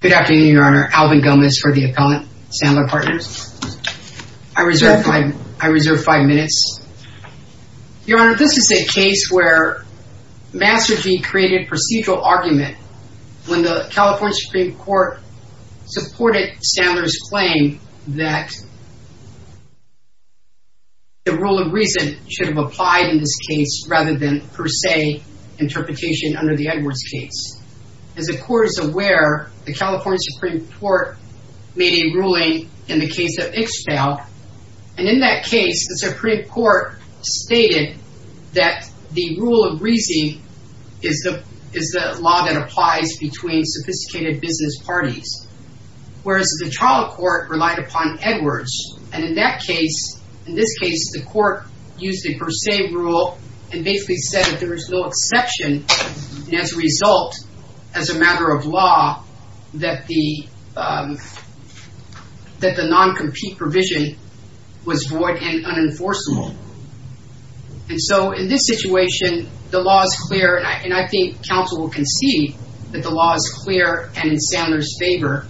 Good afternoon, Your Honor. Alvin Gomez for the account, Sandler Partners. I reserve five minutes. Your Honor, this is a case where Masergy created procedural argument when the California Supreme Court supported Sandler's claim that the rule of reason should have applied in this case rather than per se interpretation under the California Supreme Court made a ruling in the case of Ixchel, and in that case, the Supreme Court stated that the rule of reason is the law that applies between sophisticated business parties, whereas the trial court relied upon Edwards. And in that case, in this case, the court used the per se rule and basically said that there was no exception, and as a result, as a matter of law, that the non-compete provision was void and unenforceable. And so in this situation, the law is clear, and I think counsel will concede that the law is clear and in Sandler's favor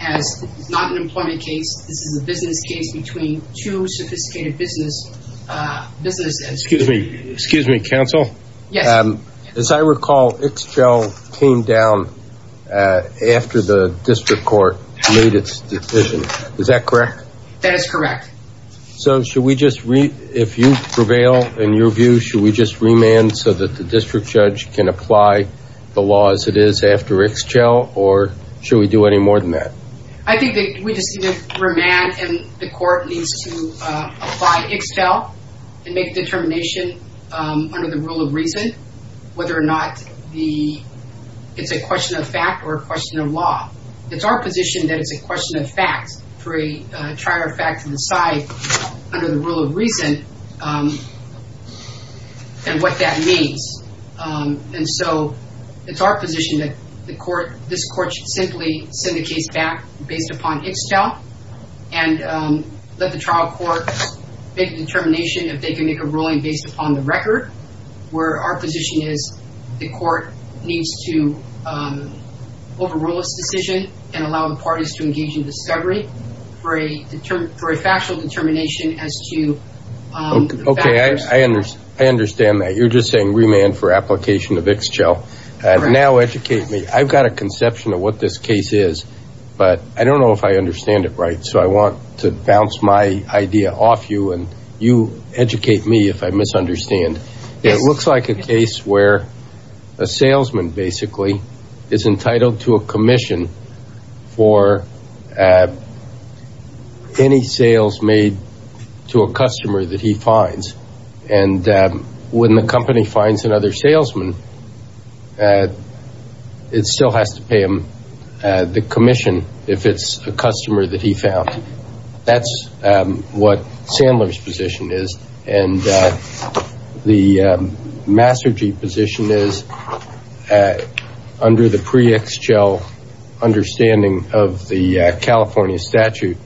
as it's not an employment case. This is a business case between two sophisticated business entities. Excuse me, counsel. Yes. As I recall, Ixchel came down after the district court made its decision. Is that correct? That is correct. So should we just, if you prevail in your view, should we just remand so that the district judge can apply the law as it is after Ixchel, or should we do any more than that? I think that we just need to remand and the court needs to apply Ixchel and make determination under the rule of reason, whether or not it's a question of fact or a question of law. It's our position that it's a question of fact for a trial of fact to decide under the rule of reason and what that means. And so it's our position that this court should simply send the case back based upon Ixchel and let the trial court make a determination if they can make a ruling based upon the record, where our position is the court needs to overrule its decision and allow the parties to engage in discovery for a factual determination as to the factors. Okay, I understand that. You're just saying remand for application of Ixchel and now educate me. I've got a conception of what this case is, but I don't know if I understand it right. So I want to bounce my idea off you and you educate me if I misunderstand. It looks like a case where a salesman basically is entitled to a commission for any sales made to a customer that he finds. And when the company finds another salesman, it still has to pay him the commission if it's a customer that he found. That's what Sandler's position is. And the Masergi position is under the pre-Ixchel understanding of the California statute,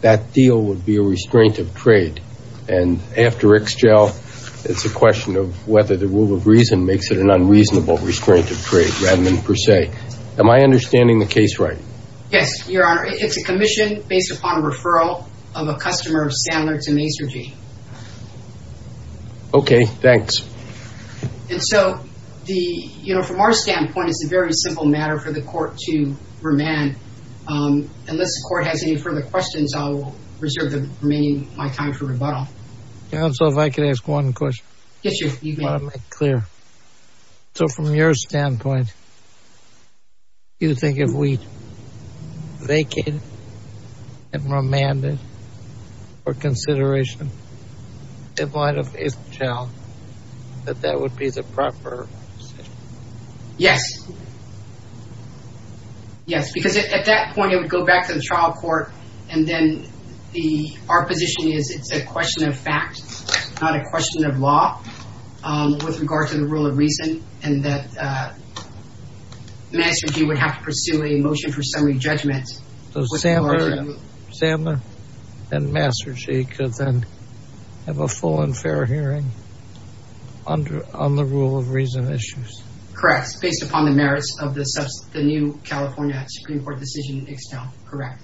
that deal would be a restraint of trade. And after Ixchel, it's a question of whether the rule of reason makes it an unreasonable restraint of trade rather than per se. Am I understanding the case right? Yes, Your Honor. It's a commission based upon referral of a customer of Sandler to Masergi. Okay, thanks. And so, you know, from our standpoint, it's a very simple matter for the court to remand. Unless the court has any further questions, I'll reserve the remaining time for rebuttal. Counsel, if I could ask one question. Yes, you may. I want to make it clear. So from your standpoint, you think if we vacated and remanded for consideration in light of Ixchel, that that would be the proper decision? Yes. Yes, because at that point, it would go back to the trial court. And then our position is it's a question of fact, not a question of law with regard to the rule of reason. And that Masergi would have to pursue a motion for summary judgment. So Sandler and Masergi could then have a full and fair hearing on the rule of reason issues? Correct. Based upon the merits of the new California Supreme Court decision in Ixchel. Correct.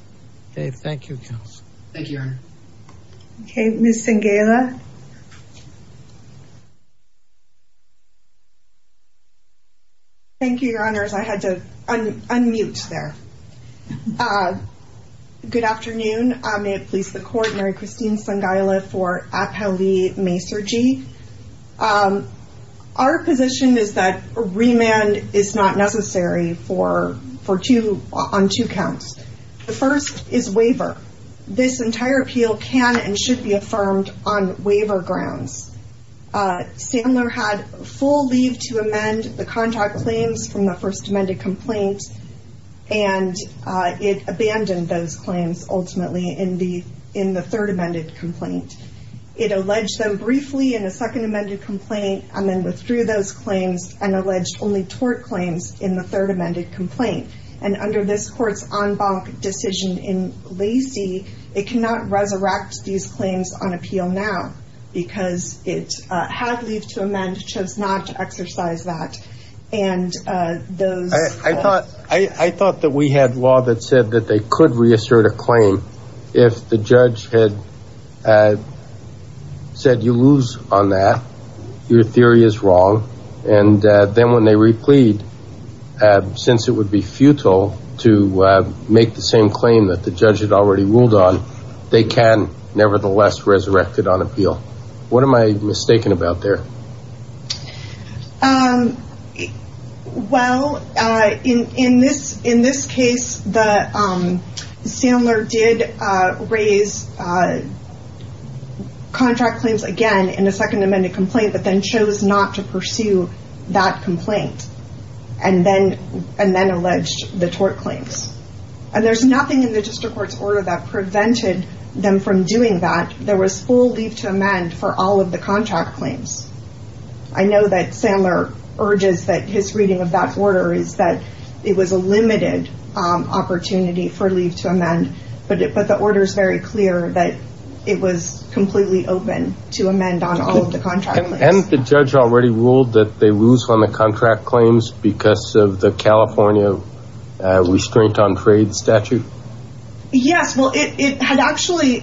Okay. Thank you, counsel. Thank you, Your Honor. Okay, Ms. Thank you, Your Honors. I had to unmute there. Good afternoon. May it please the court. Mary Christine Sangaila for Apele Masergi. Our position is that a remand is not necessary for two, on two counts. The first is waiver. This entire appeal can and should be affirmed on waiver grounds. Sandler had full leave to amend the contact claims from the first amended complaint, and it abandoned those claims ultimately in the third amended complaint. It alleged them briefly in the second amended complaint and then withdrew those claims and alleged only tort claims in the third amended complaint. And under this court's en banc decision in Lacey, it cannot resurrect these claims on appeal now because it had leave to amend, chose not to exercise that. And those- I thought that we had law that said that they could reassert a claim if the judge had said, you lose on that, your theory is wrong. And then when they replead, since it would be futile to make the same claim that the judge resurrected on appeal. What am I mistaken about there? Well, in this case, Sandler did raise contract claims again in a second amended complaint, but then chose not to pursue that complaint and then alleged the tort claims. And there's nothing in the district court's order that prevented them from doing that. There was full leave to amend for all of the contract claims. I know that Sandler urges that his reading of that order is that it was a limited opportunity for leave to amend, but the order is very clear that it was completely open to amend on all of the contract claims. And the judge already ruled that they lose on the contract claims because of the California restraint on trade statute? Yes. Well, it had actually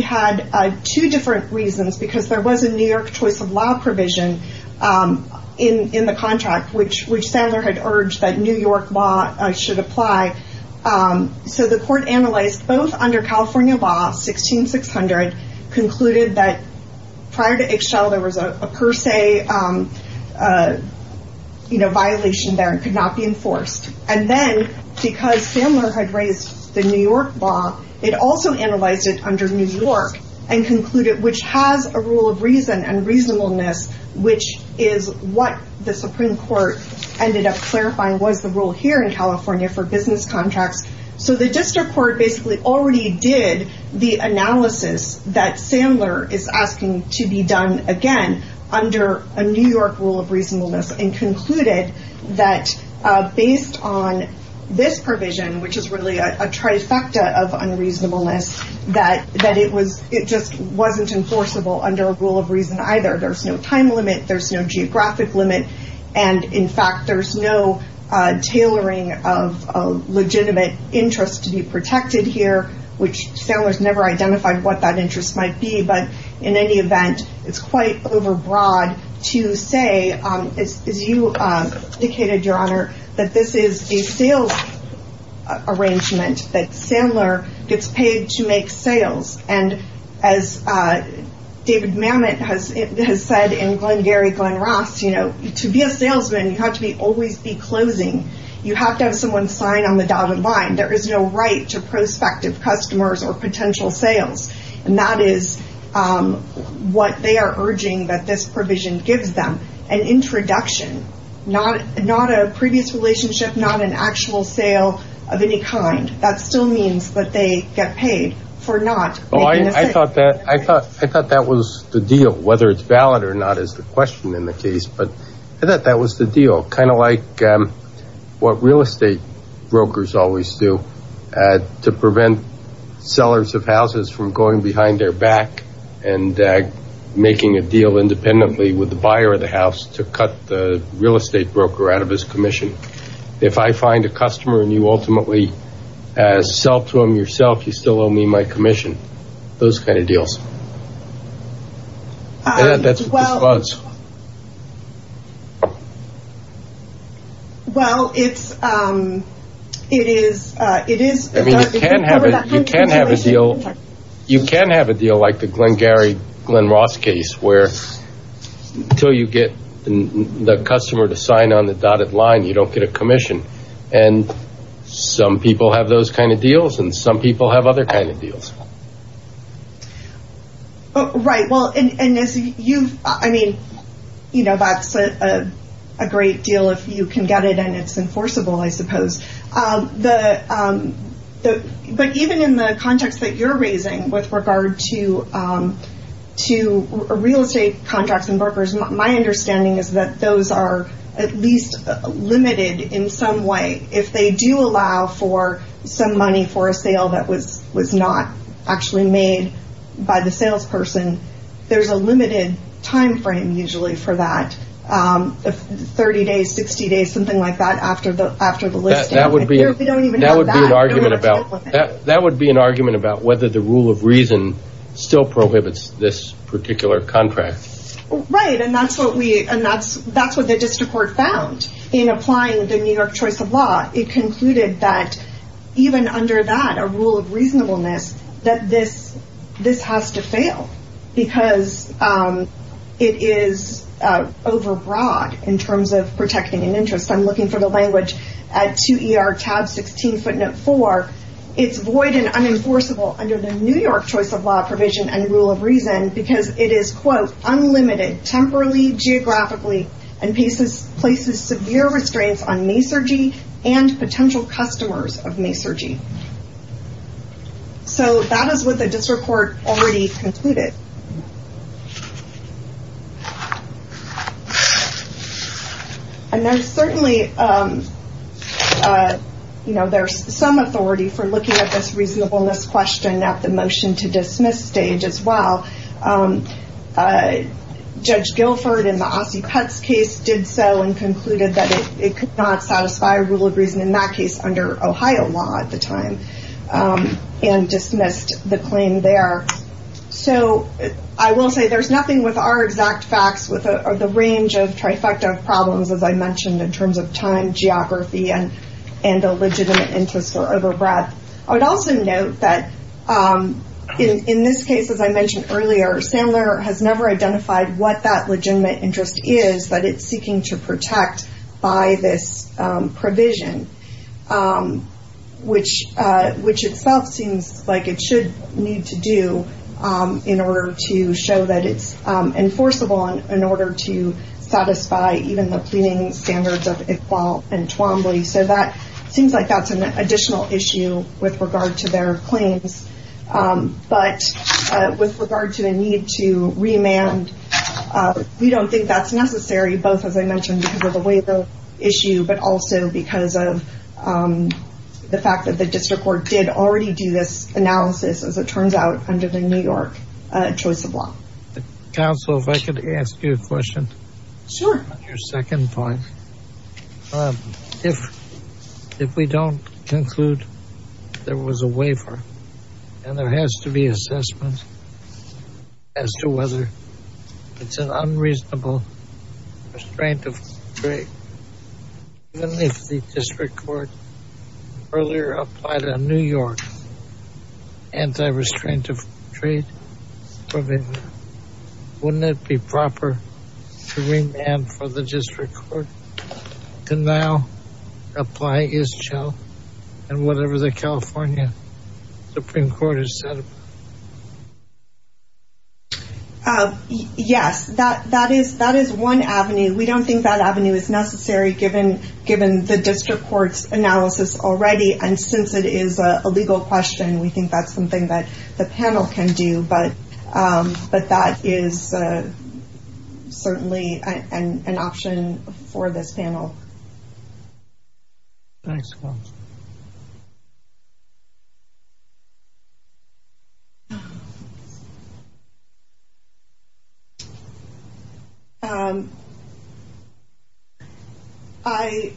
had two different reasons because there was a New York choice of law provision in the contract, which Sandler had urged that New York law should apply. So the court analyzed both under California law, 16-600, concluded that prior to Ixchel, there was a per se violation there and could not be enforced. And then because Sandler had raised the New York law, it also analyzed it under New York and concluded, which has a rule of reason and reasonableness, which is what the Supreme Court ended up clarifying was the rule here in California for business contracts. So the district court basically already did the analysis that Sandler is asking to be done again under a New York rule of reasonableness and concluded that based on this provision, which is really a trifecta of unreasonableness, that that it was it just wasn't enforceable under a rule of reason either. There's no time limit. There's no geographic limit. And in fact, there's no tailoring of legitimate interest to be protected here, which Sandler's never identified what that interest might be. But in any event, it's quite overbroad to say, as you indicated, Your Honor, that this is a sales arrangement, that Sandler gets paid to make sales. And as David Mamet has said in Glen Gary Glen Ross, you know, to be a salesman, you have to be always be closing. You have to have someone sign on the dotted line. There is no right to prospective customers or potential sales. And that is what they are urging that this provision gives them, an introduction, not a previous relationship, not an actual sale of any kind. That still means that they get paid for not making a sale. I thought that was the deal, whether it's valid or not is the question in the case. But I thought that was the deal, kind of like what real estate brokers always do to prevent sellers of houses from going behind their back and making a deal independently with the buyer of the house to cut the real estate broker out of his commission. If I find a customer and you ultimately sell to him yourself, you still owe me my commission, those kind of deals. That's what this was. Well, it's it is it is I mean, you can't have it, you can't have a deal, you can't have a deal like the Glen Gary Glen Ross case where until you get the customer to sign on the dotted line, you don't get a commission. And some people have those kind of deals and some people have other kind of deals. Right, well, and you've I mean, you know, that's a great deal if you can get it and it's enforceable, I suppose. But even in the context that you're raising with regard to to real estate contracts and brokers, my understanding is that those are at least limited in some way. If they do allow for some money for a sale that was was not actually made by the salesperson, there's a limited time frame usually for that 30 days, 60 days, something like that. After the after the list, that would be that would be an argument about that. That would be an argument about whether the rule of reason still prohibits this particular contract. Right. And that's what we and that's that's what the district court found in applying the New York choice of law. It concluded that even under that a rule of reasonableness, that this this has to fail because it is overbroad in terms of protecting an interest. I'm looking for the language at 2ER tab 16 footnote 4. It's void and unenforceable under the New York choice of law provision and rule of reason because it is, quote, unlimited, temporarily, geographically and places places severe restraints on masurgy and potential customers of masurgy. So that is what the district court already concluded. And there's certainly, you know, there's some authority for looking at this reasonableness question at the motion to dismiss stage as well. Judge Guilford in the Aussie Cuts case did so and concluded that it could not satisfy a rule of reason in that case under Ohio law at the time and dismissed the claim there. So I will say there's nothing with our exact facts with the range of trifecta of problems, as I mentioned, in terms of time, geography and and a legitimate interest or overbreadth. I would also note that in this case, as I mentioned earlier, Sandler has never identified what that legitimate interest is that it's seeking to protect by this provision, which which itself seems like it should need to do in order to show that it's enforceable and in order to satisfy even the pleading standards of Iqbal and Twombly. So that seems like that's an additional issue with regard to their claims. But with regard to the need to remand, we don't think that's necessary, both, as I the fact that the district court did already do this analysis, as it turns out, under the New York choice of law. Counsel, if I could ask you a question. Sure. On your second point, if if we don't conclude there was a waiver and there has to be assessment as to whether it's an unreasonable restraint of the district court. Earlier applied in New York. Anti-restraint of trade. Wouldn't it be proper to remand for the district court to now apply ISCCHO and whatever the California Supreme Court has said? Yes, that that is that is one avenue. We don't think that avenue is necessary, given given the district court's analysis already. And since it is a legal question, we think that's something that the panel can do. But but that is certainly an option for this panel. Thanks. I,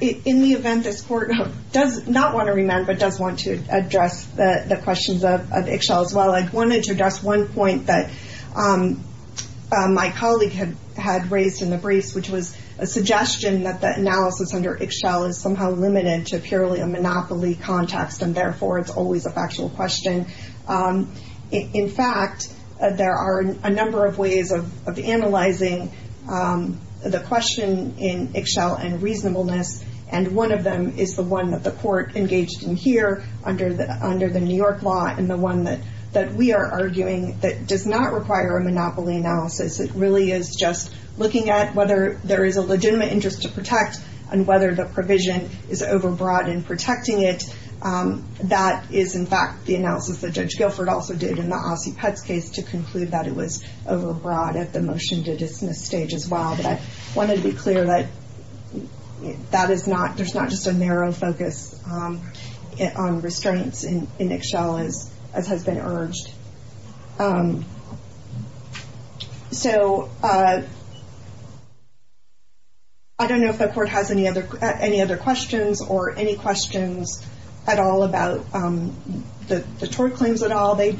in the event this court does not want to remand, but does want to address the questions of ISCCHO as well, I wanted to address one point that my colleague had had raised in the briefs, which was a suggestion that the analysis under ISCCHO is somehow limited to purely a monopoly context, and therefore it's always a factual question. In fact, there are a number of ways of analyzing the question in ISCCHO and reasonableness, and one of them is the one that the court engaged in here under the under the New York law and the one that that we are arguing that does not require a monopoly analysis. It really is just looking at whether there is a legitimate interest to protect and whether the provision is overbroad in protecting it. That is, in fact, the analysis that Judge Guilford also did in the Ossie Petz case to conclude that it was overbroad at the motion to dismiss stage as well. But I wanted to be clear that that is not there's not just a narrow focus on restraints in ISCCHO as has been urged. So. I don't know if the court has any other any other questions or any questions at all about the tort claims at all, they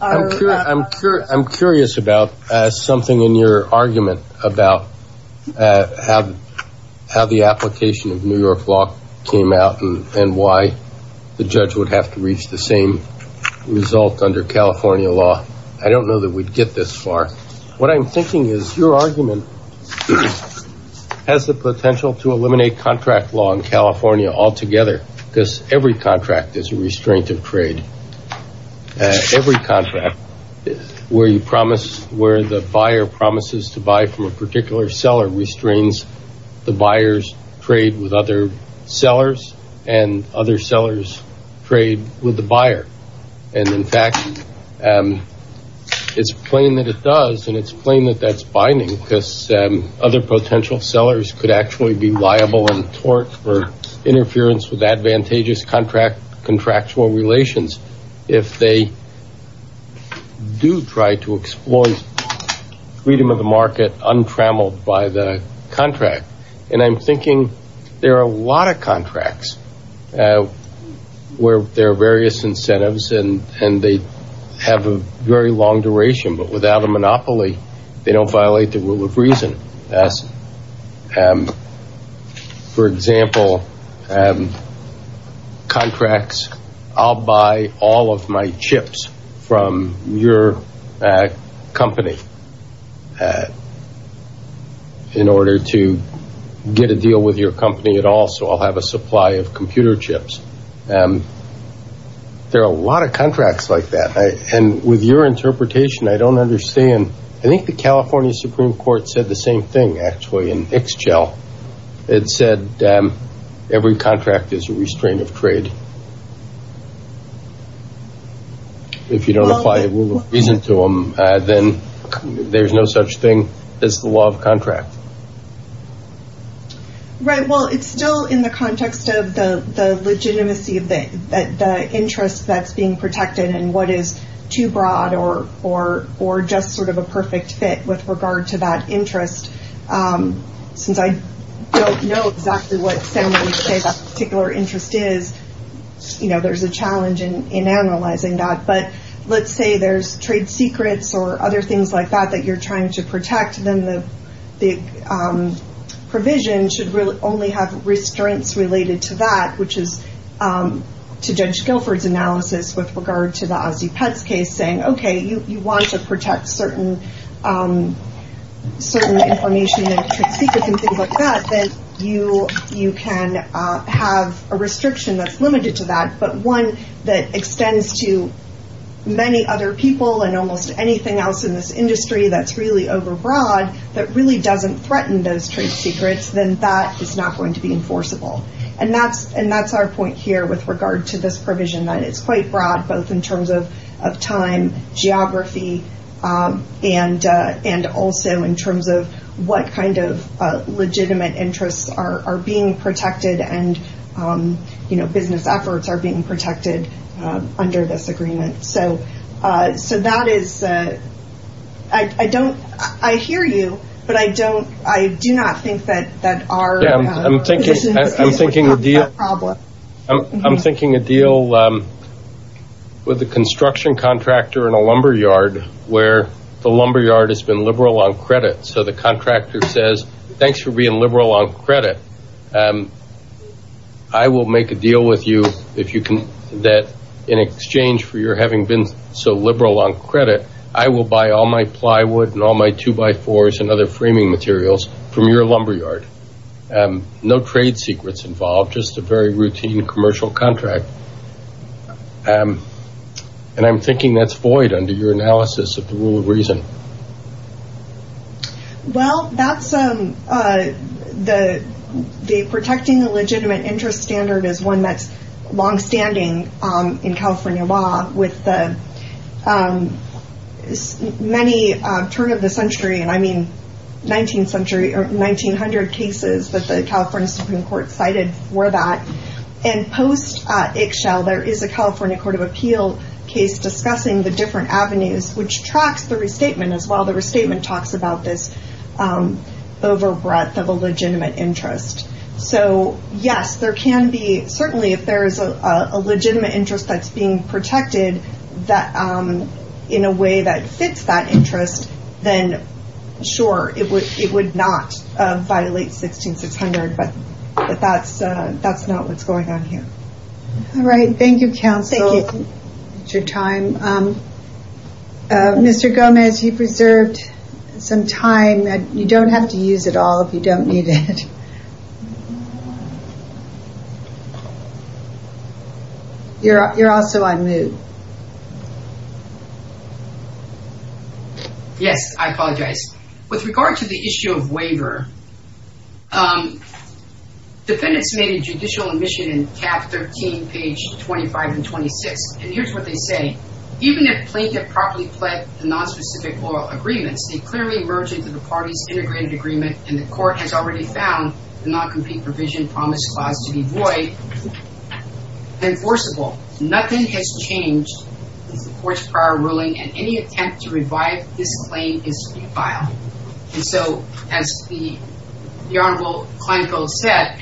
are I'm sure I'm curious about something in your argument about how the application of New York law came out and why the judge would have to reach the same result under California law. I don't know that we'd get this far. What I'm thinking is your argument has the potential to eliminate contract law in California altogether because every contract is a restraint of trade. Every contract where you promise where the buyer promises to buy from a particular seller restrains the buyers trade with other sellers and other sellers trade with the and it's plain that that's binding because other potential sellers could actually be liable and tort for interference with advantageous contract contractual relations if they do try to exploit freedom of the market untrammeled by the contract. And I'm thinking there are a lot of contracts where there are various incentives and they have a very long duration but without a monopoly, they don't violate the rule of reason as for example, contracts I'll buy all of my chips from your company in order to get a deal with your company at all. So I'll have a supply of computer chips. And there are a lot of contracts like that and with your interpretation, I don't understand. I think the California Supreme Court said the same thing. Actually, in Ixchel, it said every contract is a restraint of trade. If you don't apply a rule of reason to them, then there's no such thing as the law of legitimacy of the interest that's being protected and what is too broad or just sort of a perfect fit with regard to that interest. Since I don't know exactly what Sam would say that particular interest is, you know, there's a challenge in analyzing that. But let's say there's trade secrets or other things like that that you're trying to protect, then the provision should really only have restraints related to that, which is to Judge Guilford's analysis with regard to the Aussie Pets case saying, OK, you want to protect certain information and trade secrets and things like that, then you can have a restriction that's limited to that. But one that extends to many other people and almost anything else in this industry that's really overbroad that really doesn't threaten those trade secrets, then that is not going to be enforceable. And that's our point here with regard to this provision that it's quite broad, both in terms of time, geography, and also in terms of what kind of legitimate interests are being protected and, you know, business efforts are being protected under this agreement. So that is, I don't, I hear you, but I don't, I do not think that that are I'm thinking, I'm thinking of the problem. I'm thinking a deal with the construction contractor in a lumber yard where the lumber yard has been liberal on credit. So the contractor says, thanks for being liberal on credit. I will make a deal with you if you can, that in exchange for your having been so liberal on credit, I will buy all my plywood and all my two by fours and other framing materials from your lumber yard. No trade secrets involved, just a very routine commercial contract. And I'm thinking that's void under your analysis of the rule of reason. Well, that's the protecting the legitimate interest standard is one that's longstanding in California law with the many turn of the century, and I mean, 19th century or 1900 cases that the California Supreme Court cited for that. And post Ixchel, there is a California court of appeal case discussing the different avenues, which tracks the restatement as well. The restatement talks about this over breadth of a legitimate interest. So, yes, there can be, certainly if there is a legitimate interest that's being protected in a way that fits that interest, then sure, it would not violate 16600, but that's not what's going on here. All right. Thank you, counsel, for your time. Mr. Gomez, you preserved some time that you don't have to use at all if you don't need it. You're also on mute. Yes, I apologize. With regard to the issue of waiver, defendants made a judicial admission in cap 13, page 25 and 26, and here's what they say. Even if plaintiff properly pled the nonspecific oral agreements, they clearly merge into the party's integrated agreement and the court has already found the non-complete provision promise clause to be void and enforceable. Nothing has changed with the court's prior ruling and any attempt to revive this claim is to be filed. And so as the Honorable Kleinfeld said,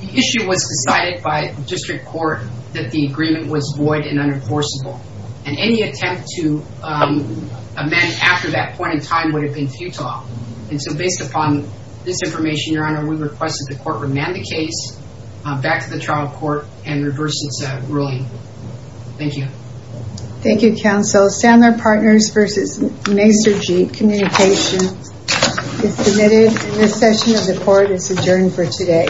the issue was decided by district court that the agreement was void and unenforceable and any attempt to amend it after that point in time would have been futile. And so based upon this information, Your Honor, we request that the court remand the case back to the trial court and reverse its ruling. Thank you. Thank you, counsel. Sandler Partners versus Macer Jeep Communications is submitted. This session of the court is adjourned for today.